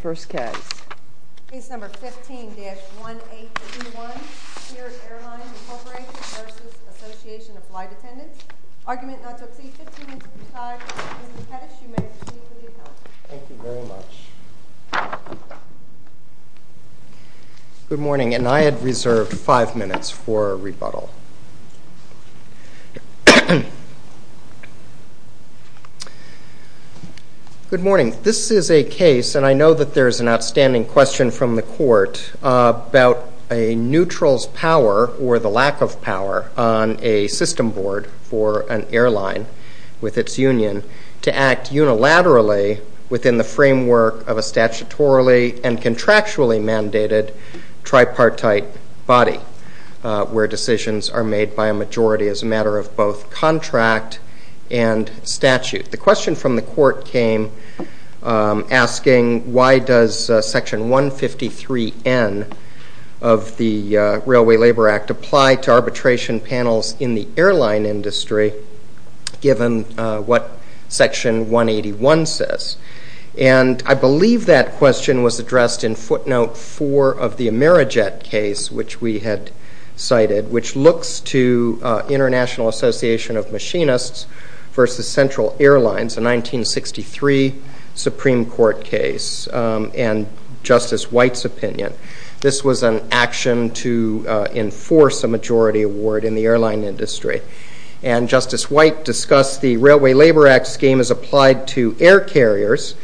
Good morning, and I had reserved 5 minutes for a rebuttal. This is a case, and I know that there is an outstanding question from the court about a neutral's power or the lack of power on a system board for an airline with its union to act unilaterally within the framework of a statutorily and contractually mandated tripartite body where decisions are made by a majority as a matter of both contract and statute. The question from the court came asking why does section 153N of the Railway Labor Act apply to arbitration panels in the airline industry given what section 181 says. I believe that question was addressed in footnote 4 of the Amerijet case, which we had cited, which looks to International Association of Machinists v. Central Airlines, a 1963 Supreme Court case and Justice White's opinion. This was an action to enforce a majority award in the airline industry, and Justice White discussed the Railway Labor Act scheme as applied to air carriers,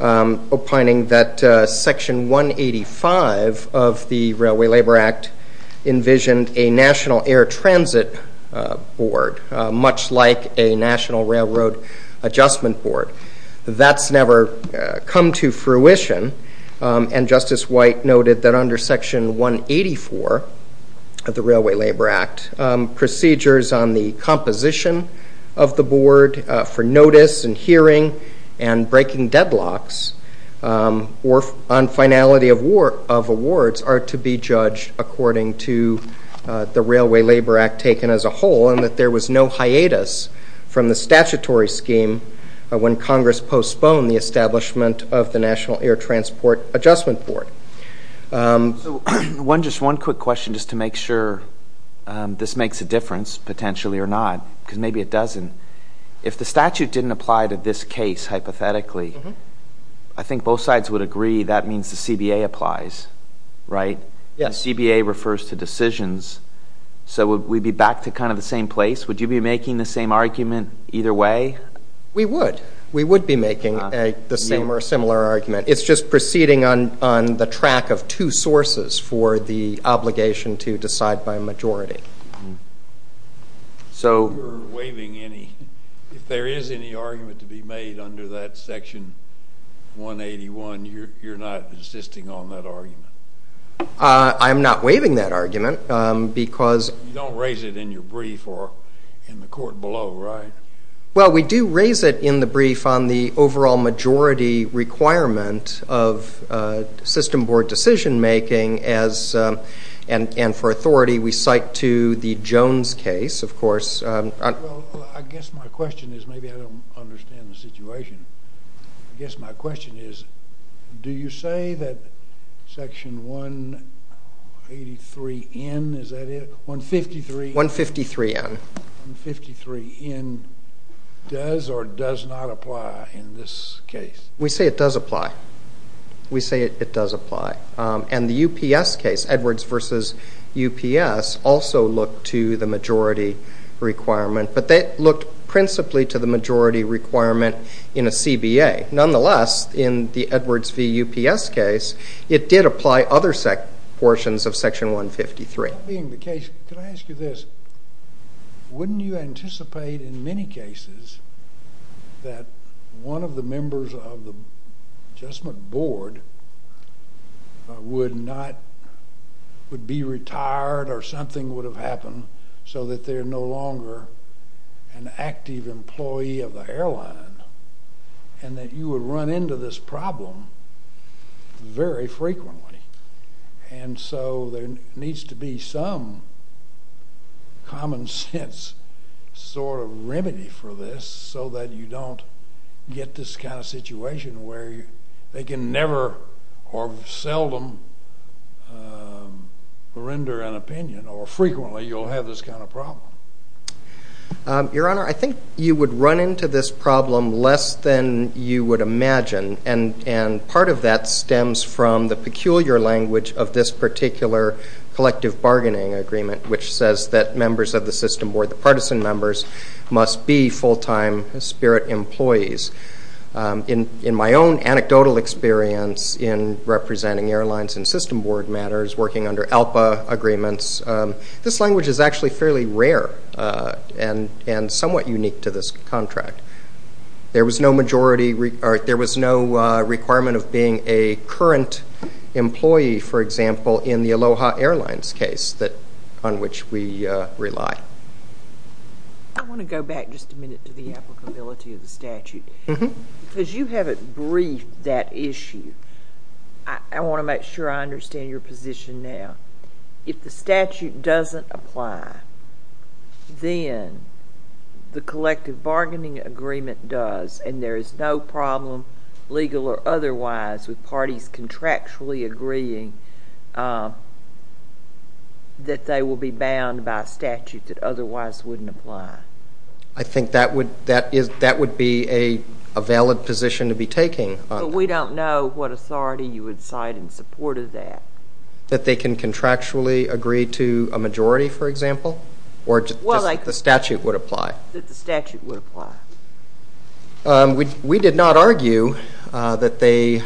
opining that section 185 of the Railway Labor Act envisioned a National Air Transit Board, much like a National Railroad Adjustment Board. That's never come to fruition, and Justice White noted that under section 184 of the board for notice and hearing and breaking deadlocks on finality of awards are to be judged according to the Railway Labor Act taken as a whole, and that there was no hiatus from the statutory scheme when Congress postponed the establishment of the National Air Transport Adjustment Board. One quick question just to make sure this makes a difference, potentially or not, because maybe it doesn't. If the statute didn't apply to this case, hypothetically, I think both sides would agree that means the CBA applies, right? Yes. The CBA refers to decisions, so would we be back to kind of the same place? Would you be making the same argument either way? We would. We would be making the same or similar argument. It's just proceeding on the track of two sources for the obligation to decide by a majority. If you're waiving any, if there is any argument to be made under that section 181, you're not insisting on that argument? I'm not waiving that argument, because- You don't raise it in your brief or in the court below, right? Well, we do raise it in the brief on the overall majority requirement of system board decision making, and for authority, we cite to the Jones case, of course. Well, I guess my question is, maybe I don't understand the situation, I guess my question is, do you say that section 183N, is that it, 153N, does or does not apply in this case? We say it does apply. We say it does apply. And the UPS case, Edwards v. UPS, also looked to the majority requirement, but they looked principally to the majority requirement in a CBA. Nonetheless, in the Edwards v. UPS case, it did apply other portions of section 153. That being the case, could I ask you this? Wouldn't you anticipate, in many cases, that one of the members of the adjustment board would be retired, or something would have happened, so that they're no longer an active employee of the airline, and that you would run into this problem very frequently? And so there needs to be some common sense sort of remedy for this, so that you don't get this kind of situation where they can never, or seldom, render an opinion, or frequently you'll have this kind of problem. Your Honor, I think you would run into this problem less than you would imagine, and part of that stems from the peculiar language of this particular collective bargaining agreement, which says that members of the system board, the partisan members, must be full-time spirit employees. In my own anecdotal experience in representing airlines in system board matters, working under ALPA agreements, this language is actually fairly rare, and somewhat unique to this contract. There was no majority, or there was no requirement of being a current employee, for example, in the Aloha Airlines case on which we rely. I want to go back just a minute to the applicability of the statute, because you haven't briefed that issue. I want to make sure I understand your position now. If the statute doesn't apply, then the collective bargaining agreement does, and there is no problem, legal or otherwise, with parties contractually agreeing that they will be bound by a statute that otherwise wouldn't apply. I think that would be a valid position to be taking. We don't know what authority you would cite in support of that. That they can contractually agree to a majority, for example, or that the statute would apply? We did not argue that they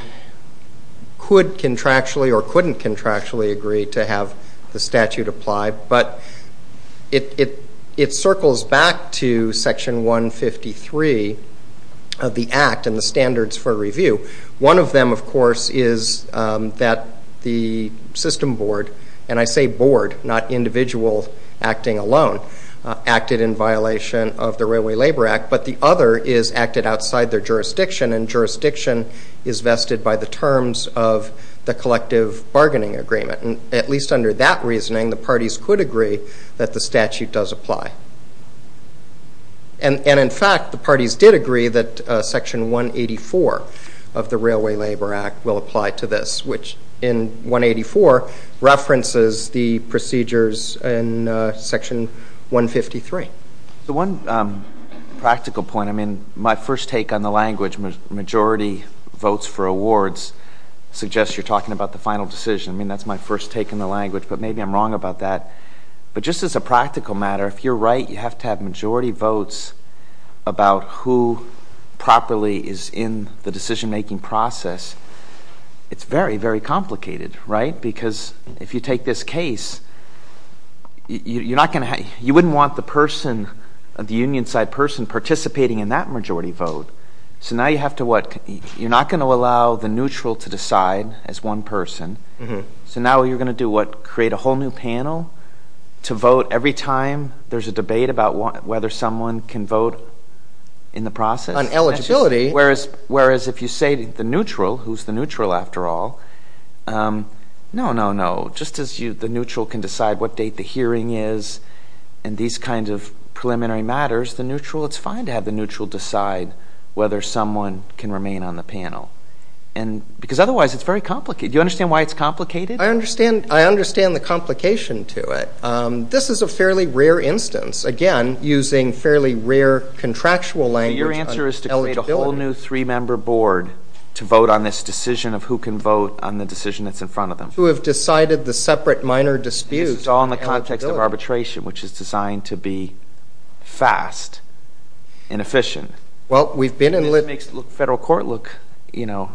could contractually or couldn't contractually agree to have the statute apply, but it circles back to Section 153 of the Act and the standards for review. One of them, of course, is that the system board, and I say board, not individual acting alone, acted in violation of the Railway Labor Act, but the other is acted outside their jurisdiction, and jurisdiction is vested by the terms of the collective bargaining agreement. At least under that reasoning, the parties could agree that the statute does apply. And, in fact, the parties did agree that Section 184 of the Railway Labor Act will apply to this, which in 184, references the procedures in Section 153. One practical point, I mean, my first take on the language, majority votes for awards, suggests you're talking about the final decision. I mean, that's my first take on the language, but maybe I'm wrong about that, but just as a practical matter, if you're right, you have to have majority votes about who properly is in the decision-making process. It's very, very complicated, right? Because if you take this case, you wouldn't want the person, the union-side person, participating in that majority vote, so now you have to, what, you're not going to allow the neutral to decide as one person, so now what you're going to do, what, create a whole new panel to vote every time there's a debate about whether someone can vote in the process? On eligibility. That's just, whereas if you say the neutral, who's the neutral after all, no, no, no, just as the neutral can decide what date the hearing is and these kinds of preliminary matters, the neutral, it's fine to have the neutral decide whether someone can remain on the panel, and because otherwise it's very complicated. Do you understand why it's complicated? I understand, I understand the complication to it. This is a fairly rare instance, again, using fairly rare contractual language on eligibility. So your answer is to create a whole new three-member board to vote on this decision of who can vote on the decision that's in front of them. Who have decided the separate minor dispute on eligibility. This is all in the context of arbitration, which is designed to be fast and efficient. Well, we've been in litigation. And this makes the federal court look, you know,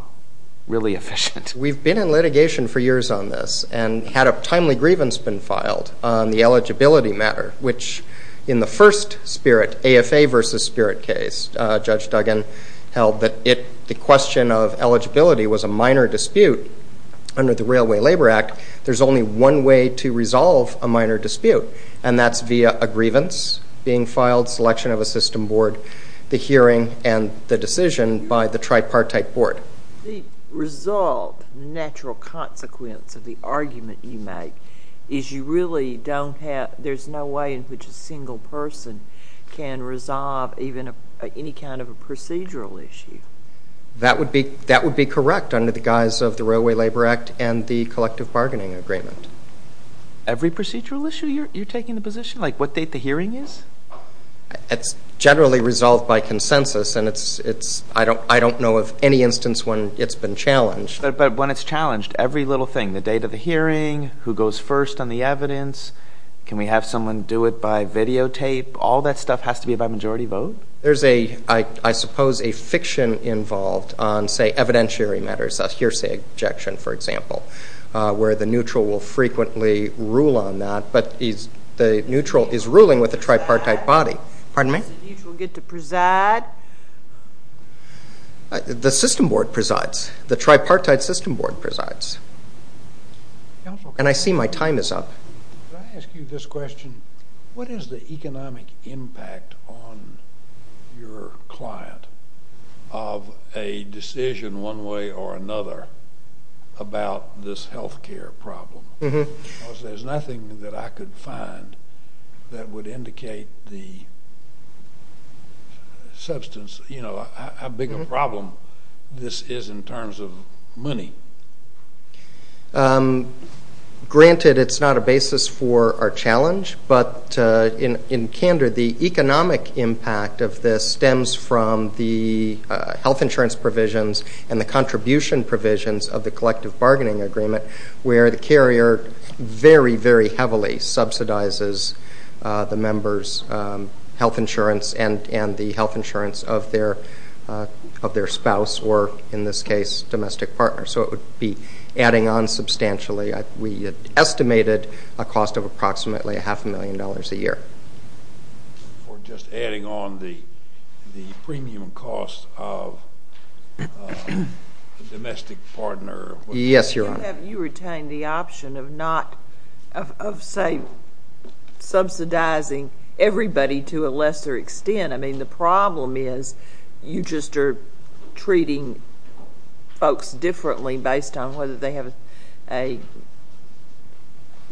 really efficient. We've been in litigation for years on this and had a timely grievance been filed on the eligibility matter, which in the first spirit, AFA versus Spirit case, Judge Duggan held that the question of eligibility was a minor dispute under the Railway Labor Act. There's only one way to resolve a minor dispute, and that's via a grievance being filed, selection of a system board, the hearing, and the decision by the tripartite board. The resolved natural consequence of the argument you make is you really don't have, there's no way in which a single person can resolve even any kind of a procedural issue. That would be correct under the guise of the Railway Labor Act and the collective bargaining agreement. Every procedural issue you're taking the position, like what date the hearing is? It's generally resolved by consensus, and it's, I don't know of any instance when it's been challenged. But when it's challenged, every little thing, the date of the hearing, who goes first on the evidence, can we have someone do it by videotape? All that stuff has to be by majority vote? There's a, I suppose, a fiction involved on, say, evidentiary matters, a hearsay objection, for example, where the neutral will frequently rule on that, but the neutral is ruling with the tripartite body. Pardon me? Does the neutral get to preside? The system board presides. The tripartite system board presides. And I see my time is up. Can I ask you this question? What is the economic impact on your client of a decision one way or another about this health care problem? Because there's nothing that I could find that would indicate the substance, you know, how big a problem this is in terms of money. Granted, it's not a basis for our challenge, but in candor, the economic impact of this stems from the health insurance provisions and the contribution provisions of the collective bargaining agreement, where the carrier very, very heavily subsidizes the member's health insurance and the health insurance of their spouse or, in this case, domestic partner. So it would be adding on substantially. We estimated a cost of approximately a half a million dollars a year. Or just adding on the premium cost of the domestic partner. Yes, Your Honor. Have you retained the option of not, of say, subsidizing everybody to a lesser extent? I mean, the problem is you just are treating folks differently based on whether they have a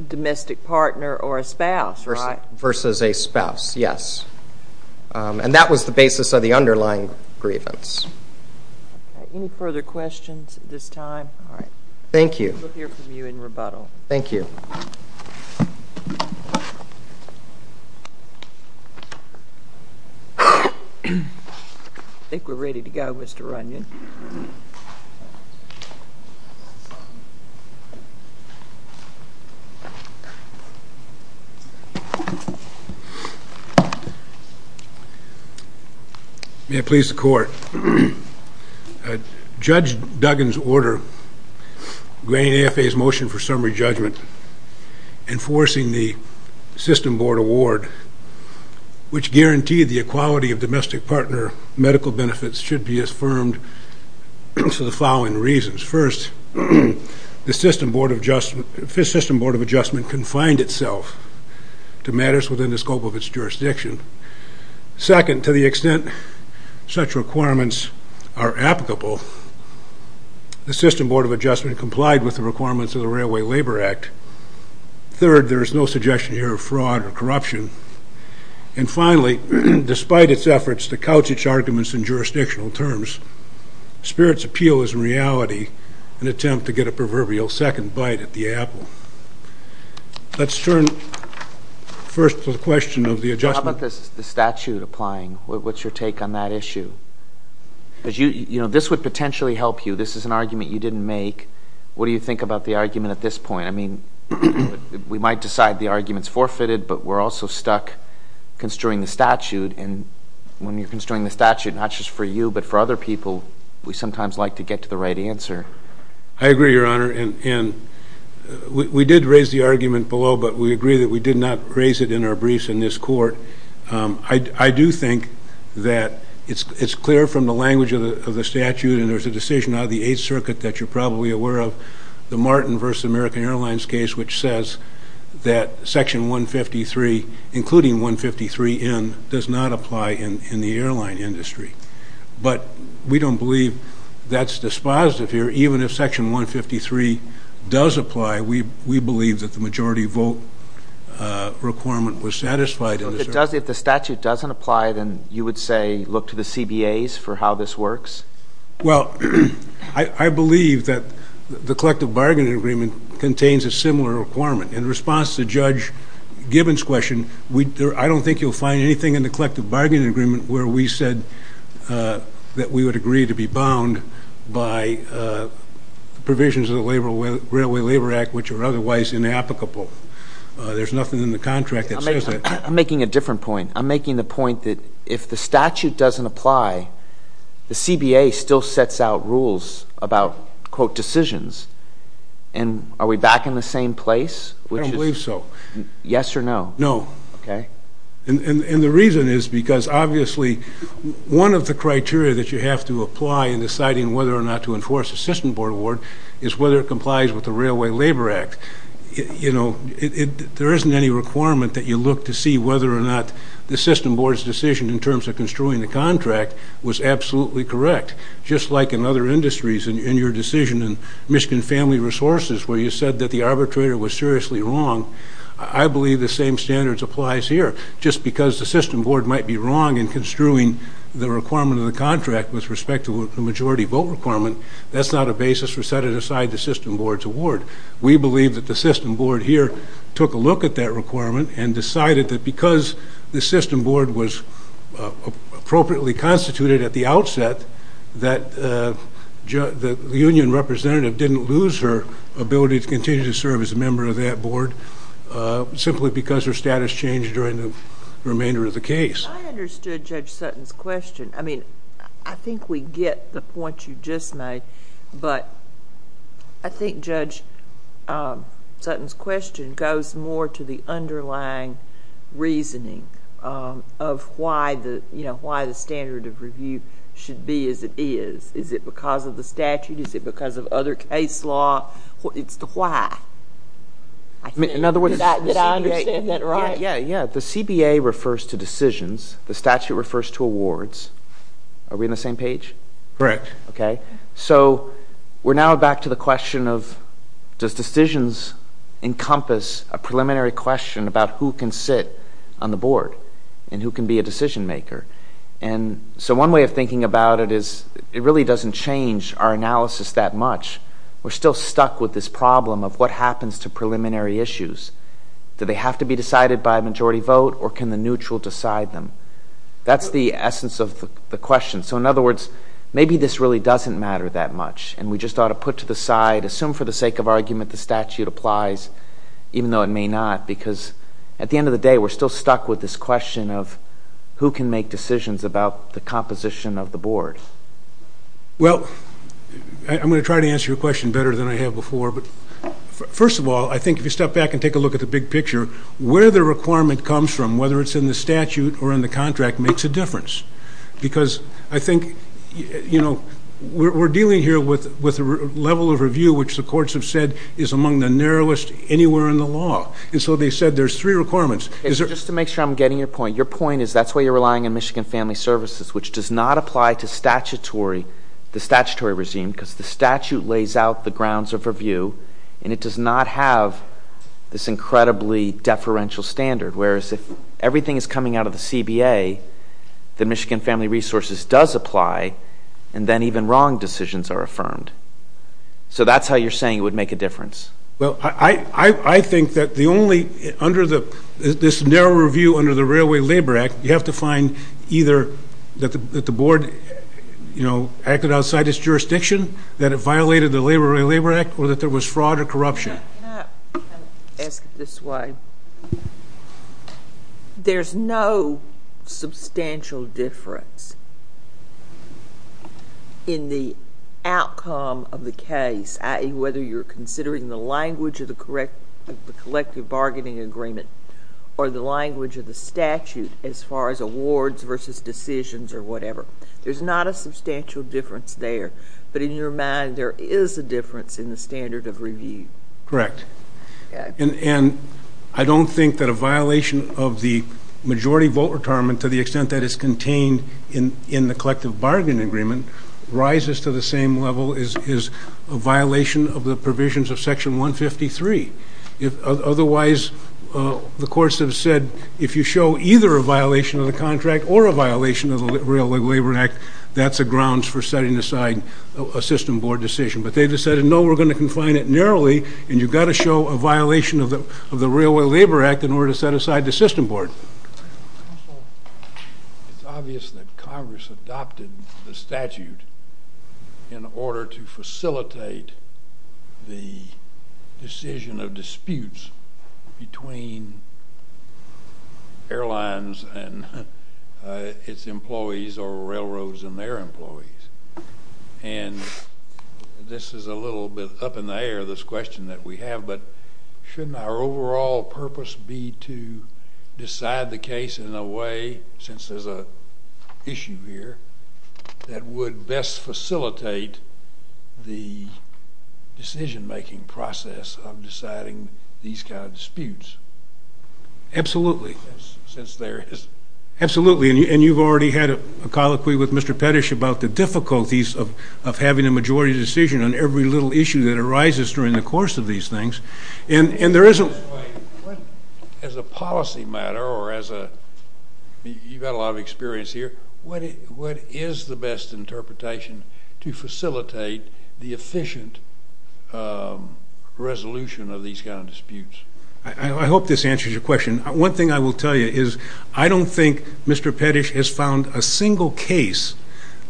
domestic partner or a spouse, right? Versus a spouse, yes. And that was the basis of the underlying grievance. Any further questions at this time? All right. Thank you. We'll hear from you in rebuttal. Thank you. I think we're ready to go, Mr. Runyon. May it please the Court. Judge Duggan's order, granting AFA's motion for summary judgment, enforcing the system board award, which guaranteed the equality of domestic partner medical benefits, should be affirmed for the following reasons. First, the system board of adjustment confined itself to matters within the scope of its jurisdiction. Second, to the extent such requirements are applicable, the system board of adjustment complied with the requirements of the Railway Labor Act. Third, there is no suggestion here of fraud or corruption. And finally, despite its efforts to couch its arguments in jurisdictional terms, Spirit's Appeal is in reality an attempt to get a proverbial second bite at the apple. Let's turn first to the question of the adjustment. How about the statute applying? What's your take on that issue? Because this would potentially help you. This is an argument you didn't make. What do you think about the argument at this point? I mean, we might decide the argument's forfeited, but we're also stuck construing the statute. And when you're construing the statute, not just for you, but for other people, we sometimes like to get to the right answer. I agree, Your Honor. And we did raise the argument below, but we agree that we did not raise it in our briefs in this court. I do think that it's clear from the language of the statute, and there's a decision out of the Eighth Circuit that you're probably aware of, the Martin v. American Airlines case, which says that Section 153, including 153N, does not apply in the airline industry. But we don't believe that's dispositive here. Even if Section 153 does apply, we believe that the majority vote requirement was satisfied. So if the statute doesn't apply, then you would say, look to the CBAs for how this works? Well, I believe that the collective bargaining agreement contains a similar requirement. In response to Judge Gibbons' question, I don't think you'll find anything in the collective bargaining agreement where we said that we would agree to be bound by the provisions of the Railway Labor Act, which are otherwise inapplicable. There's nothing in the contract that says that. I'm making a different point. I'm making the point that if the statute doesn't apply, the CBA still sets out rules about, quote, decisions. And are we back in the same place? I don't believe so. Yes or no? No. Okay. And the reason is because, obviously, one of the criteria that you have to apply in deciding whether or not to enforce a system board award is whether it complies with the Railway Labor Act. You know, there isn't any requirement that you look to see whether or not the system board's decision in terms of construing the contract was absolutely correct. Just like in other industries, in your decision in Michigan Family Resources, where you said that the arbitrator was seriously wrong, I believe the same standards applies here. Just because the system board might be wrong in construing the requirement of the contract with respect to the majority vote requirement, that's not a basis for setting aside the system board's award. We believe that the system board here took a look at that requirement and decided that because the system board was appropriately constituted at the outset, that the union representative didn't lose her ability to continue to serve as a member of that board simply because her status changed during the remainder of the case. I understood Judge Sutton's question. I mean, I think we get the point you just made, but I think Judge Sutton's question goes more to the underlying reasoning of why the standard of review should be as it is. Is it because of the statute? Is it because of other case law? It's the why. Did I understand that right? Yeah, yeah. The CBA refers to decisions. The statute refers to awards. Are we on the same page? Correct. Okay. So we're now back to the question of, does decisions encompass a preliminary question about who can sit on the board and who can be a decision maker? So one way of thinking about it is it really doesn't change our analysis that much. We're still stuck with this problem of what happens to preliminary issues. Do they have to be decided by a majority vote, or can the neutral decide them? That's the essence of the question. So in other words, maybe this really doesn't matter that much, and we just ought to put to the side, assume for the sake of argument the statute applies, even though it may not, because at the end of the day we're still stuck with this question of who can make decisions about the composition of the board. Well, I'm going to try to answer your question better than I have before. But first of all, I think if you step back and take a look at the big picture, where the requirement comes from, whether it's in the statute or in the contract, makes a difference. Because I think, you know, we're dealing here with a level of review which the courts have said is among the narrowest anywhere in the law. And so they said there's three requirements. Just to make sure I'm getting your point, your point is that's why you're relying on Michigan Family Services, which does not apply to the statutory regime, because the statute lays out the grounds of review, and it does not have this incredibly deferential standard. Whereas if everything is coming out of the CBA, the Michigan Family Resources does apply, and then even wrong decisions are affirmed. So that's how you're saying it would make a difference. Well, I think that the only, under this narrow review under the Railway Labor Act, you have to find either that the board, you know, acted outside its jurisdiction, that it violated the Railway Labor Act, or that there was fraud or corruption. Can I ask it this way? There's no substantial difference in the outcome of the case, i.e., whether you're considering the language of the collective bargaining agreement or the language of the statute as far as awards versus decisions or whatever. There's not a substantial difference there. But in your mind, there is a difference in the standard of review. Correct. And I don't think that a violation of the majority vote retirement, to the extent that it's contained in the collective bargaining agreement, rises to the same level as a violation of the provisions of Section 153. Otherwise, the courts have said if you show either a violation of the contract or a violation of the Railway Labor Act, that's a grounds for setting aside a system board decision. But they've decided, no, we're going to confine it narrowly, and you've got to show a violation of the Railway Labor Act in order to set aside the system board. Counsel, it's obvious that Congress adopted the statute in order to facilitate the decision of disputes between airlines and its employees or railroads and their employees. And this is a little bit up in the air, this question that we have, but shouldn't our overall purpose be to decide the case in a way, since there's an issue here, that would best facilitate the decision-making process of deciding these kind of disputes? Absolutely. Since there is. Absolutely, and you've already had a colloquy with Mr. Pettish about the difficulties of having a majority decision on every little issue that arises during the course of these things. Mr. White, as a policy matter, or as a, you've got a lot of experience here, what is the best interpretation to facilitate the efficient resolution of these kind of disputes? I hope this answers your question. One thing I will tell you is I don't think Mr. Pettish has found a single case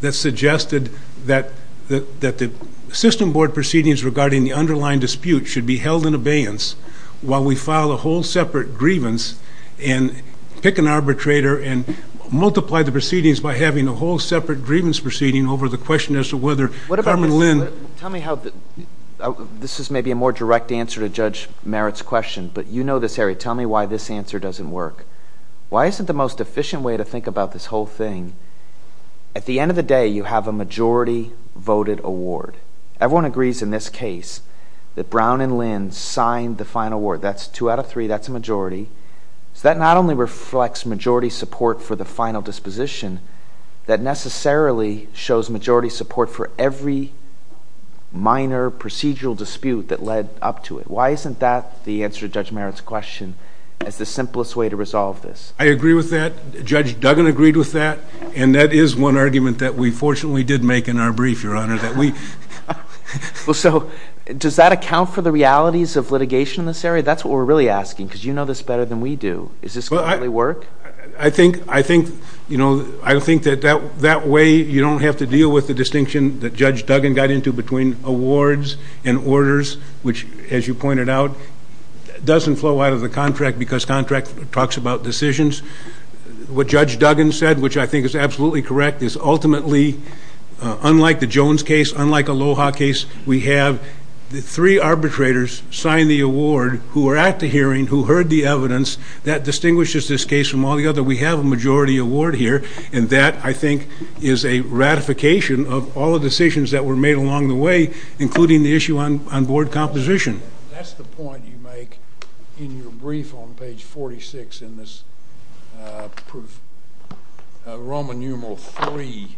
that suggested that the system board proceedings regarding the underlying dispute should be held in abeyance while we file a whole separate grievance and pick an arbitrator and multiply the proceedings by having a whole separate grievance proceeding over the question as to whether Carmen Lynn Tell me how, this is maybe a more direct answer to Judge Merritt's question, but you know this, Harry, tell me why this answer doesn't work. Why isn't the most efficient way to think about this whole thing, at the end of the day you have a majority voted award. Everyone agrees in this case that Brown and Lynn signed the final award. That's two out of three, that's a majority. So that not only reflects majority support for the final disposition, that necessarily shows majority support for every minor procedural dispute that led up to it. Why isn't that the answer to Judge Merritt's question as the simplest way to resolve this? I agree with that, Judge Duggan agreed with that, and that is one argument that we fortunately did make in our brief, Your Honor, Well, so does that account for the realities of litigation in this area? That's what we're really asking, because you know this better than we do. Is this going to really work? I think that way you don't have to deal with the distinction that Judge Duggan got into between awards and orders, which as you pointed out, doesn't flow out of the contract because contract talks about decisions. What Judge Duggan said, which I think is absolutely correct, is ultimately unlike the Jones case, unlike Aloha case, we have three arbitrators sign the award who are at the hearing who heard the evidence that distinguishes this case from all the other. We have a majority award here, and that, I think, is a ratification of all the decisions that were made along the way, including the issue on board composition. That's the point you make in your brief on page 46 in this proof, Roman numeral 3.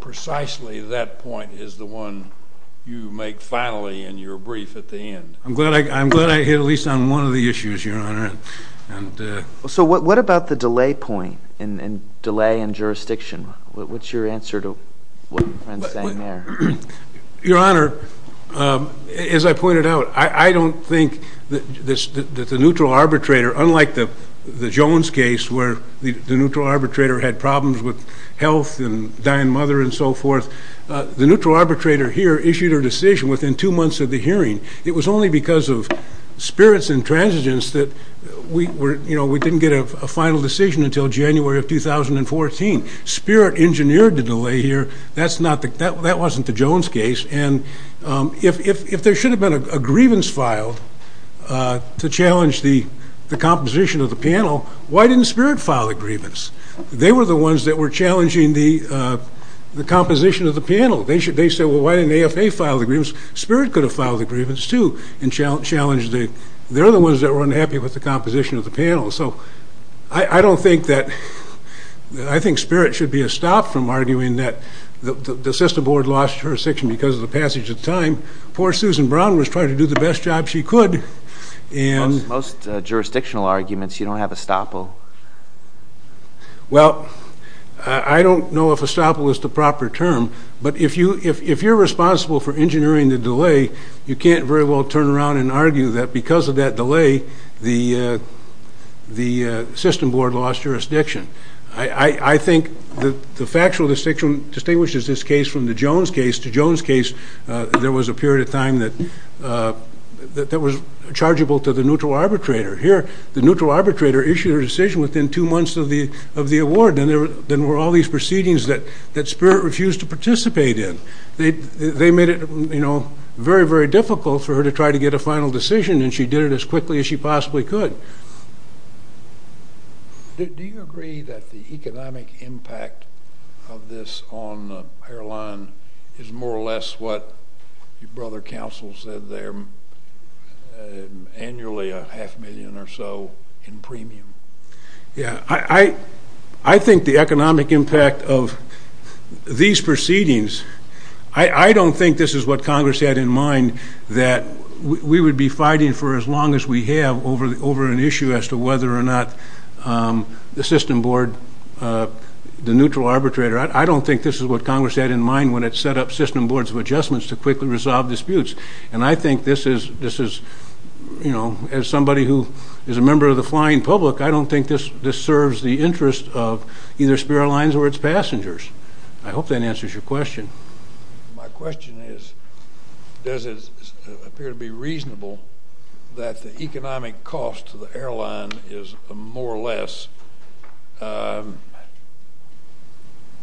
Precisely that point is the one you make finally in your brief at the end. I'm glad I hit at least on one of the issues, Your Honor. So what about the delay point in delay in jurisdiction? What's your answer to what Brent's saying there? Your Honor, as I pointed out, I don't think that the neutral arbitrator, unlike the Jones case where the neutral arbitrator had problems with health and dying mother and so forth, the neutral arbitrator here issued her decision within two months of the hearing. It was only because of spirits and transigence that we didn't get a final decision until January of 2014. Spirit engineered the delay here. That wasn't the Jones case. If there should have been a grievance filed to challenge the composition of the panel, why didn't spirit file the grievance? They were the ones that were challenging the composition of the panel. They said, well, why didn't AFA file the grievance? Spirit could have filed the grievance too and challenged it. So I don't think that I think spirit should be a stop from arguing that the system board lost jurisdiction because of the passage of time. Poor Susan Brown was trying to do the best job she could. Most jurisdictional arguments, you don't have estoppel. Well, I don't know if estoppel is the proper term. But if you're responsible for engineering the delay, you can't very well turn around and argue that because of that delay, the system board lost jurisdiction. I think the factual distinction distinguishes this case from the Jones case. The Jones case, there was a period of time that was chargeable to the neutral arbitrator. Here, the neutral arbitrator issued a decision within two months of the award, and there were all these proceedings that spirit refused to participate in. They made it very, very difficult for her to try to get a final decision, and she did it as quickly as she possibly could. Do you agree that the economic impact of this on the airline is more or less what your brother counsel said there, annually a half million or so in premium? Yeah, I think the economic impact of these proceedings, I don't think this is what Congress had in mind that we would be fighting for as long as we have over an issue as to whether or not the system board, the neutral arbitrator, I don't think this is what Congress had in mind when it set up system boards of adjustments to quickly resolve disputes. And I think this is, you know, as somebody who is a member of the flying public, I don't think this serves the interest of either Spirit Airlines or its passengers. I hope that answers your question. My question is, does it appear to be reasonable that the economic cost to the airline is more or less, what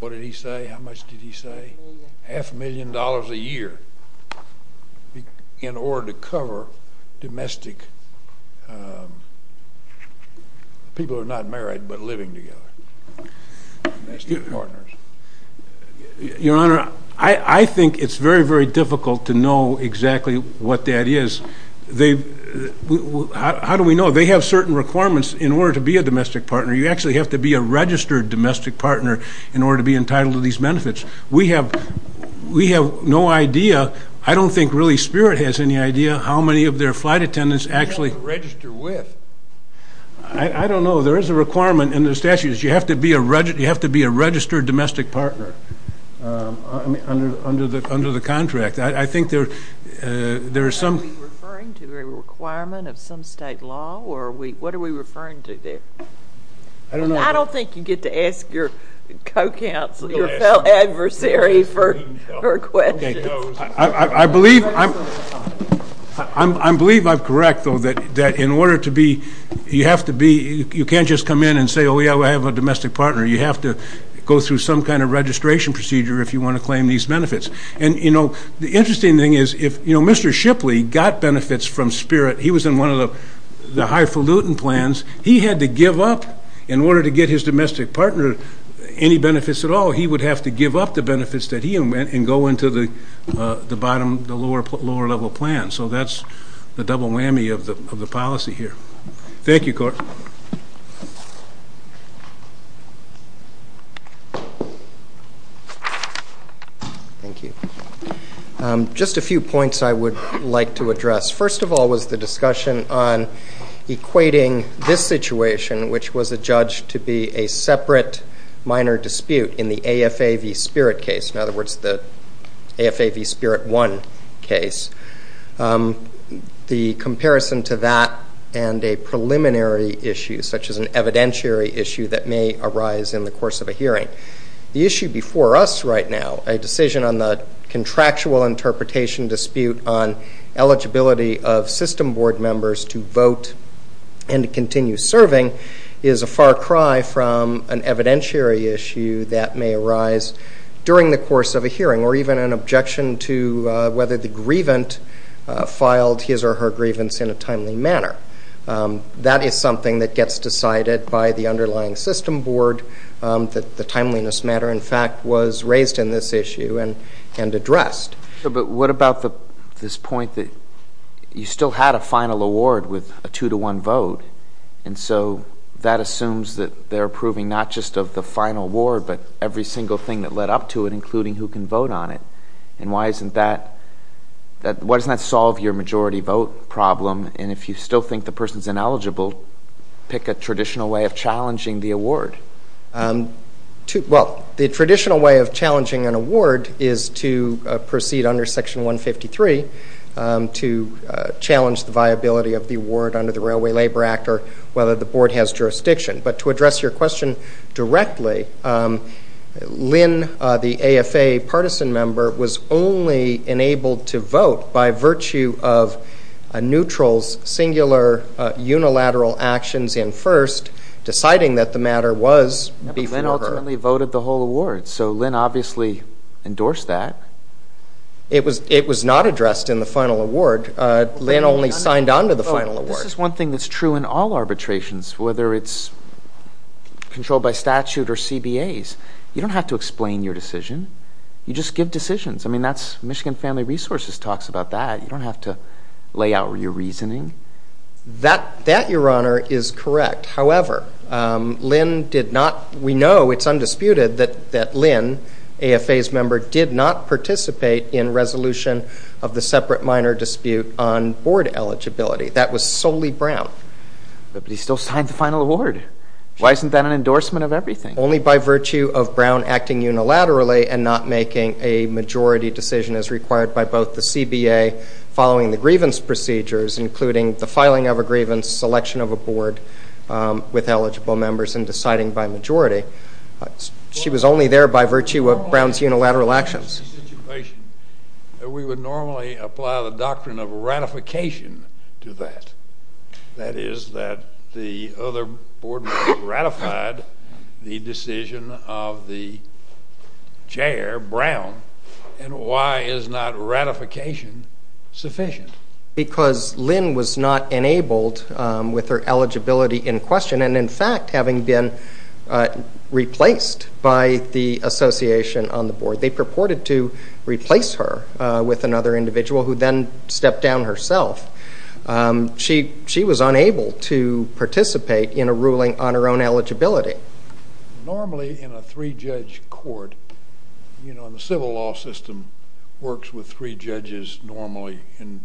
did he say, how much did he say? Half a million. Half a million dollars a year in order to cover domestic, people who are not married but living together, domestic partners. Your Honor, I think it's very, very difficult to know exactly what that is. How do we know? They have certain requirements in order to be a domestic partner. You actually have to be a registered domestic partner in order to be entitled to these benefits. We have no idea. I don't think really Spirit has any idea how many of their flight attendants actually register with. I don't know. There is a requirement in the statutes. You have to be a registered domestic partner under the contract. I think there are some. Are we referring to a requirement of some state law? What are we referring to there? I don't think you get to ask your co-counsel, your fell adversary for questions. I believe I'm correct, though, that in order to be, you have to be, you can't just come in and say, oh, yeah, I have a domestic partner. You have to go through some kind of registration procedure if you want to claim these benefits. And, you know, the interesting thing is, you know, Mr. Shipley got benefits from Spirit. He was in one of the highfalutin plans. He had to give up, in order to get his domestic partner any benefits at all, he would have to give up the benefits that he had and go into the lower-level plan. So that's the double whammy of the policy here. Thank you, Court. Thank you. Just a few points I would like to address. First of all was the discussion on equating this situation, which was adjudged to be a separate minor dispute in the AFA v. Spirit case. In other words, the AFA v. Spirit I case. The comparison to that and a preliminary issue, such as an evidentiary issue that may arise in the course of a hearing. The issue before us right now, a decision on the contractual interpretation dispute on eligibility of system board members to vote and to continue serving is a far cry from an evidentiary issue that may arise during the course of a hearing, or even an objection to whether the grievant filed his or her grievance in a timely manner. That is something that gets decided by the underlying system board. The timeliness matter, in fact, was raised in this issue and addressed. But what about this point that you still had a final award with a two-to-one vote, and so that assumes that they're approving not just of the final award, but every single thing that led up to it, including who can vote on it. And why doesn't that solve your majority vote problem? And if you still think the person's ineligible, pick a traditional way of challenging the award. Well, the traditional way of challenging an award is to proceed under Section 153 to challenge the viability of the award under the Railway Labor Act or whether the board has jurisdiction. But to address your question directly, Lynn, the AFA partisan member, was only enabled to vote by virtue of a neutral's singular unilateral actions in first, deciding that the matter was before her. But Lynn ultimately voted the whole award, so Lynn obviously endorsed that. It was not addressed in the final award. Lynn only signed on to the final award. This is one thing that's true in all arbitrations, whether it's controlled by statute or CBAs. You don't have to explain your decision. You just give decisions. I mean, Michigan Family Resources talks about that. You don't have to lay out your reasoning. That, Your Honor, is correct. However, we know it's undisputed that Lynn, AFA's member, did not participate in resolution of the separate minor dispute on board eligibility. That was solely Brown. But he still signed the final award. Why isn't that an endorsement of everything? Only by virtue of Brown acting unilaterally and not making a majority decision, as required by both the CBA following the grievance procedures, including the filing of a grievance, selection of a board with eligible members, and deciding by majority. She was only there by virtue of Brown's unilateral actions. We would normally apply the doctrine of ratification to that. That is that the other board member ratified the decision of the chair, Brown. And why is not ratification sufficient? Because Lynn was not enabled with her eligibility in question, and in fact having been replaced by the association on the board. They purported to replace her with another individual who then stepped down herself. She was unable to participate in a ruling on her own eligibility. Normally in a three-judge court, you know, in the civil law system, works with three judges normally in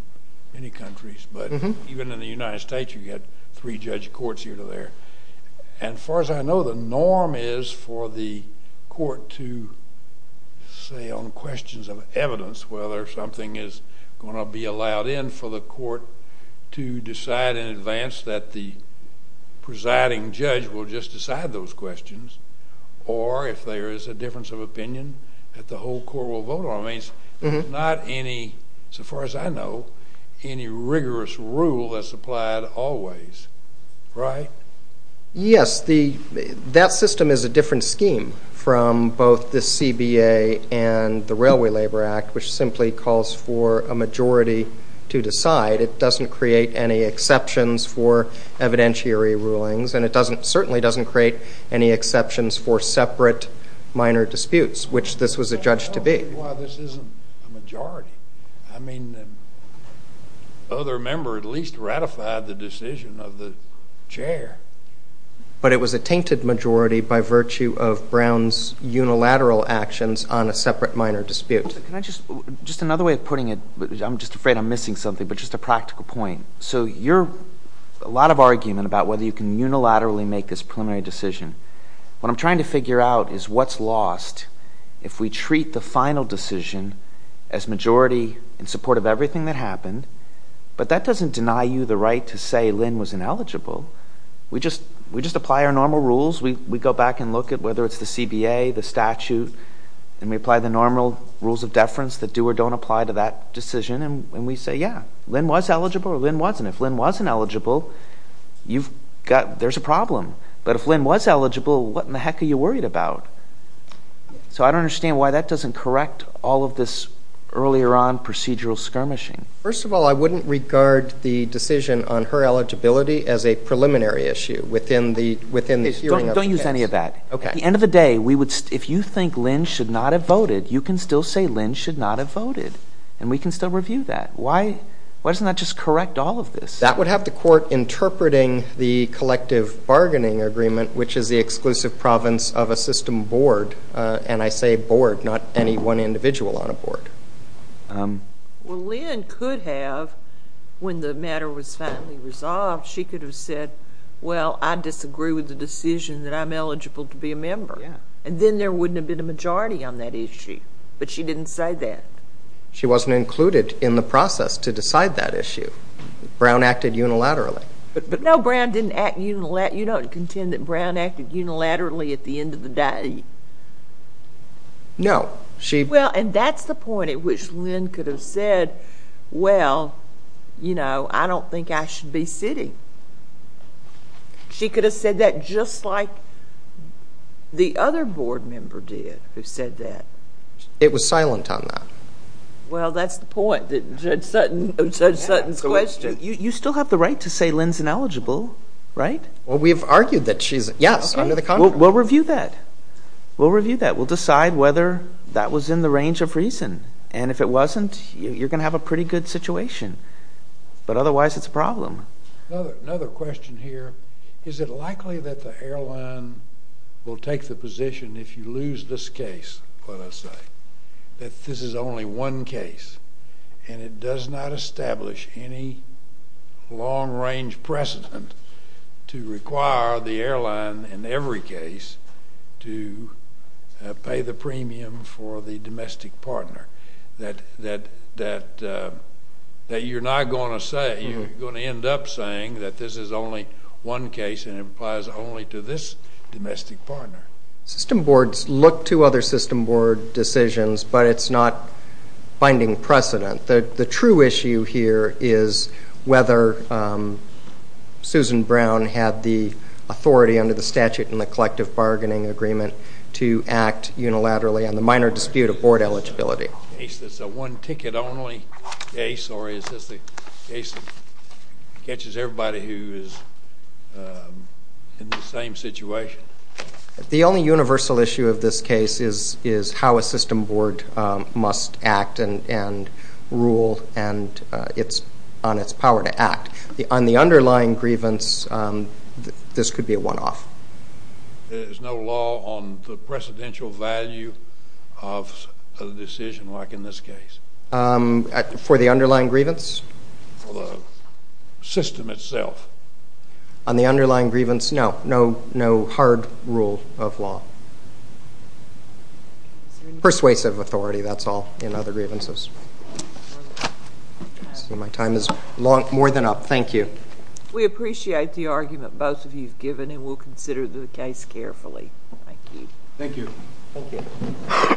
many countries. But even in the United States, you get three-judge courts here or there. And far as I know, the norm is for the court to say on questions of evidence whether something is going to be allowed in for the court to decide in advance that the presiding judge will just decide those questions, or if there is a difference of opinion that the whole court will vote on. That means there's not any, so far as I know, any rigorous rule that's applied always. Right? Yes. That system is a different scheme from both the CBA and the Railway Labor Act, which simply calls for a majority to decide. It doesn't create any exceptions for evidentiary rulings, and it certainly doesn't create any exceptions for separate minor disputes, which this was adjudged to be. Well, this isn't a majority. I mean, the other member at least ratified the decision of the chair. But it was a tainted majority by virtue of Brown's unilateral actions on a separate minor dispute. Just another way of putting it. I'm just afraid I'm missing something, but just a practical point. So you're a lot of argument about whether you can unilaterally make this preliminary decision. If we treat the final decision as majority in support of everything that happened, but that doesn't deny you the right to say Lynn was ineligible. We just apply our normal rules. We go back and look at whether it's the CBA, the statute, and we apply the normal rules of deference that do or don't apply to that decision, and we say, yeah, Lynn was eligible or Lynn wasn't. If Lynn wasn't eligible, there's a problem. But if Lynn was eligible, what in the heck are you worried about? So I don't understand why that doesn't correct all of this earlier on procedural skirmishing. First of all, I wouldn't regard the decision on her eligibility as a preliminary issue within the hearing of the case. Don't use any of that. At the end of the day, if you think Lynn should not have voted, you can still say Lynn should not have voted, and we can still review that. Why doesn't that just correct all of this? That would have the court interpreting the collective bargaining agreement, which is the exclusive province of a system board, and I say board, not any one individual on a board. Well, Lynn could have, when the matter was finally resolved, she could have said, well, I disagree with the decision that I'm eligible to be a member, and then there wouldn't have been a majority on that issue, but she didn't say that. She wasn't included in the process to decide that issue. Brown acted unilaterally. But no, Brown didn't act unilaterally. You don't contend that Brown acted unilaterally at the end of the day. No. Well, and that's the point at which Lynn could have said, well, you know, I don't think I should be sitting. She could have said that just like the other board member did who said that. It was silent on that. Well, that's the point of Judge Sutton's question. You still have the right to say Lynn's ineligible, right? Well, we've argued that she's, yes, under the contract. We'll review that. We'll review that. We'll decide whether that was in the range of reason, and if it wasn't you're going to have a pretty good situation, but otherwise it's a problem. Another question here, is it likely that the airline will take the position, if you lose this case, let us say, that this is only one case and it does not establish any long-range precedent to require the airline in every case to pay the premium for the domestic partner? That you're not going to say, you're going to end up saying that this is only one case and it applies only to this domestic partner? System boards look to other system board decisions, but it's not finding precedent. The true issue here is whether Susan Brown had the authority under the statute in the collective bargaining agreement to act unilaterally on the minor dispute of board eligibility. Is this a one-ticket only case, or is this the case that catches everybody who is in the same situation? The only universal issue of this case is how a system board must act and rule on its power to act. On the underlying grievance, this could be a one-off. There's no law on the precedential value of a decision like in this case? For the underlying grievance? For the system itself? On the underlying grievance, no. No hard rule of law. Persuasive authority, that's all in other grievances. My time is more than up. Thank you. We appreciate the argument both of you have given, and we'll consider the case carefully. Thank you.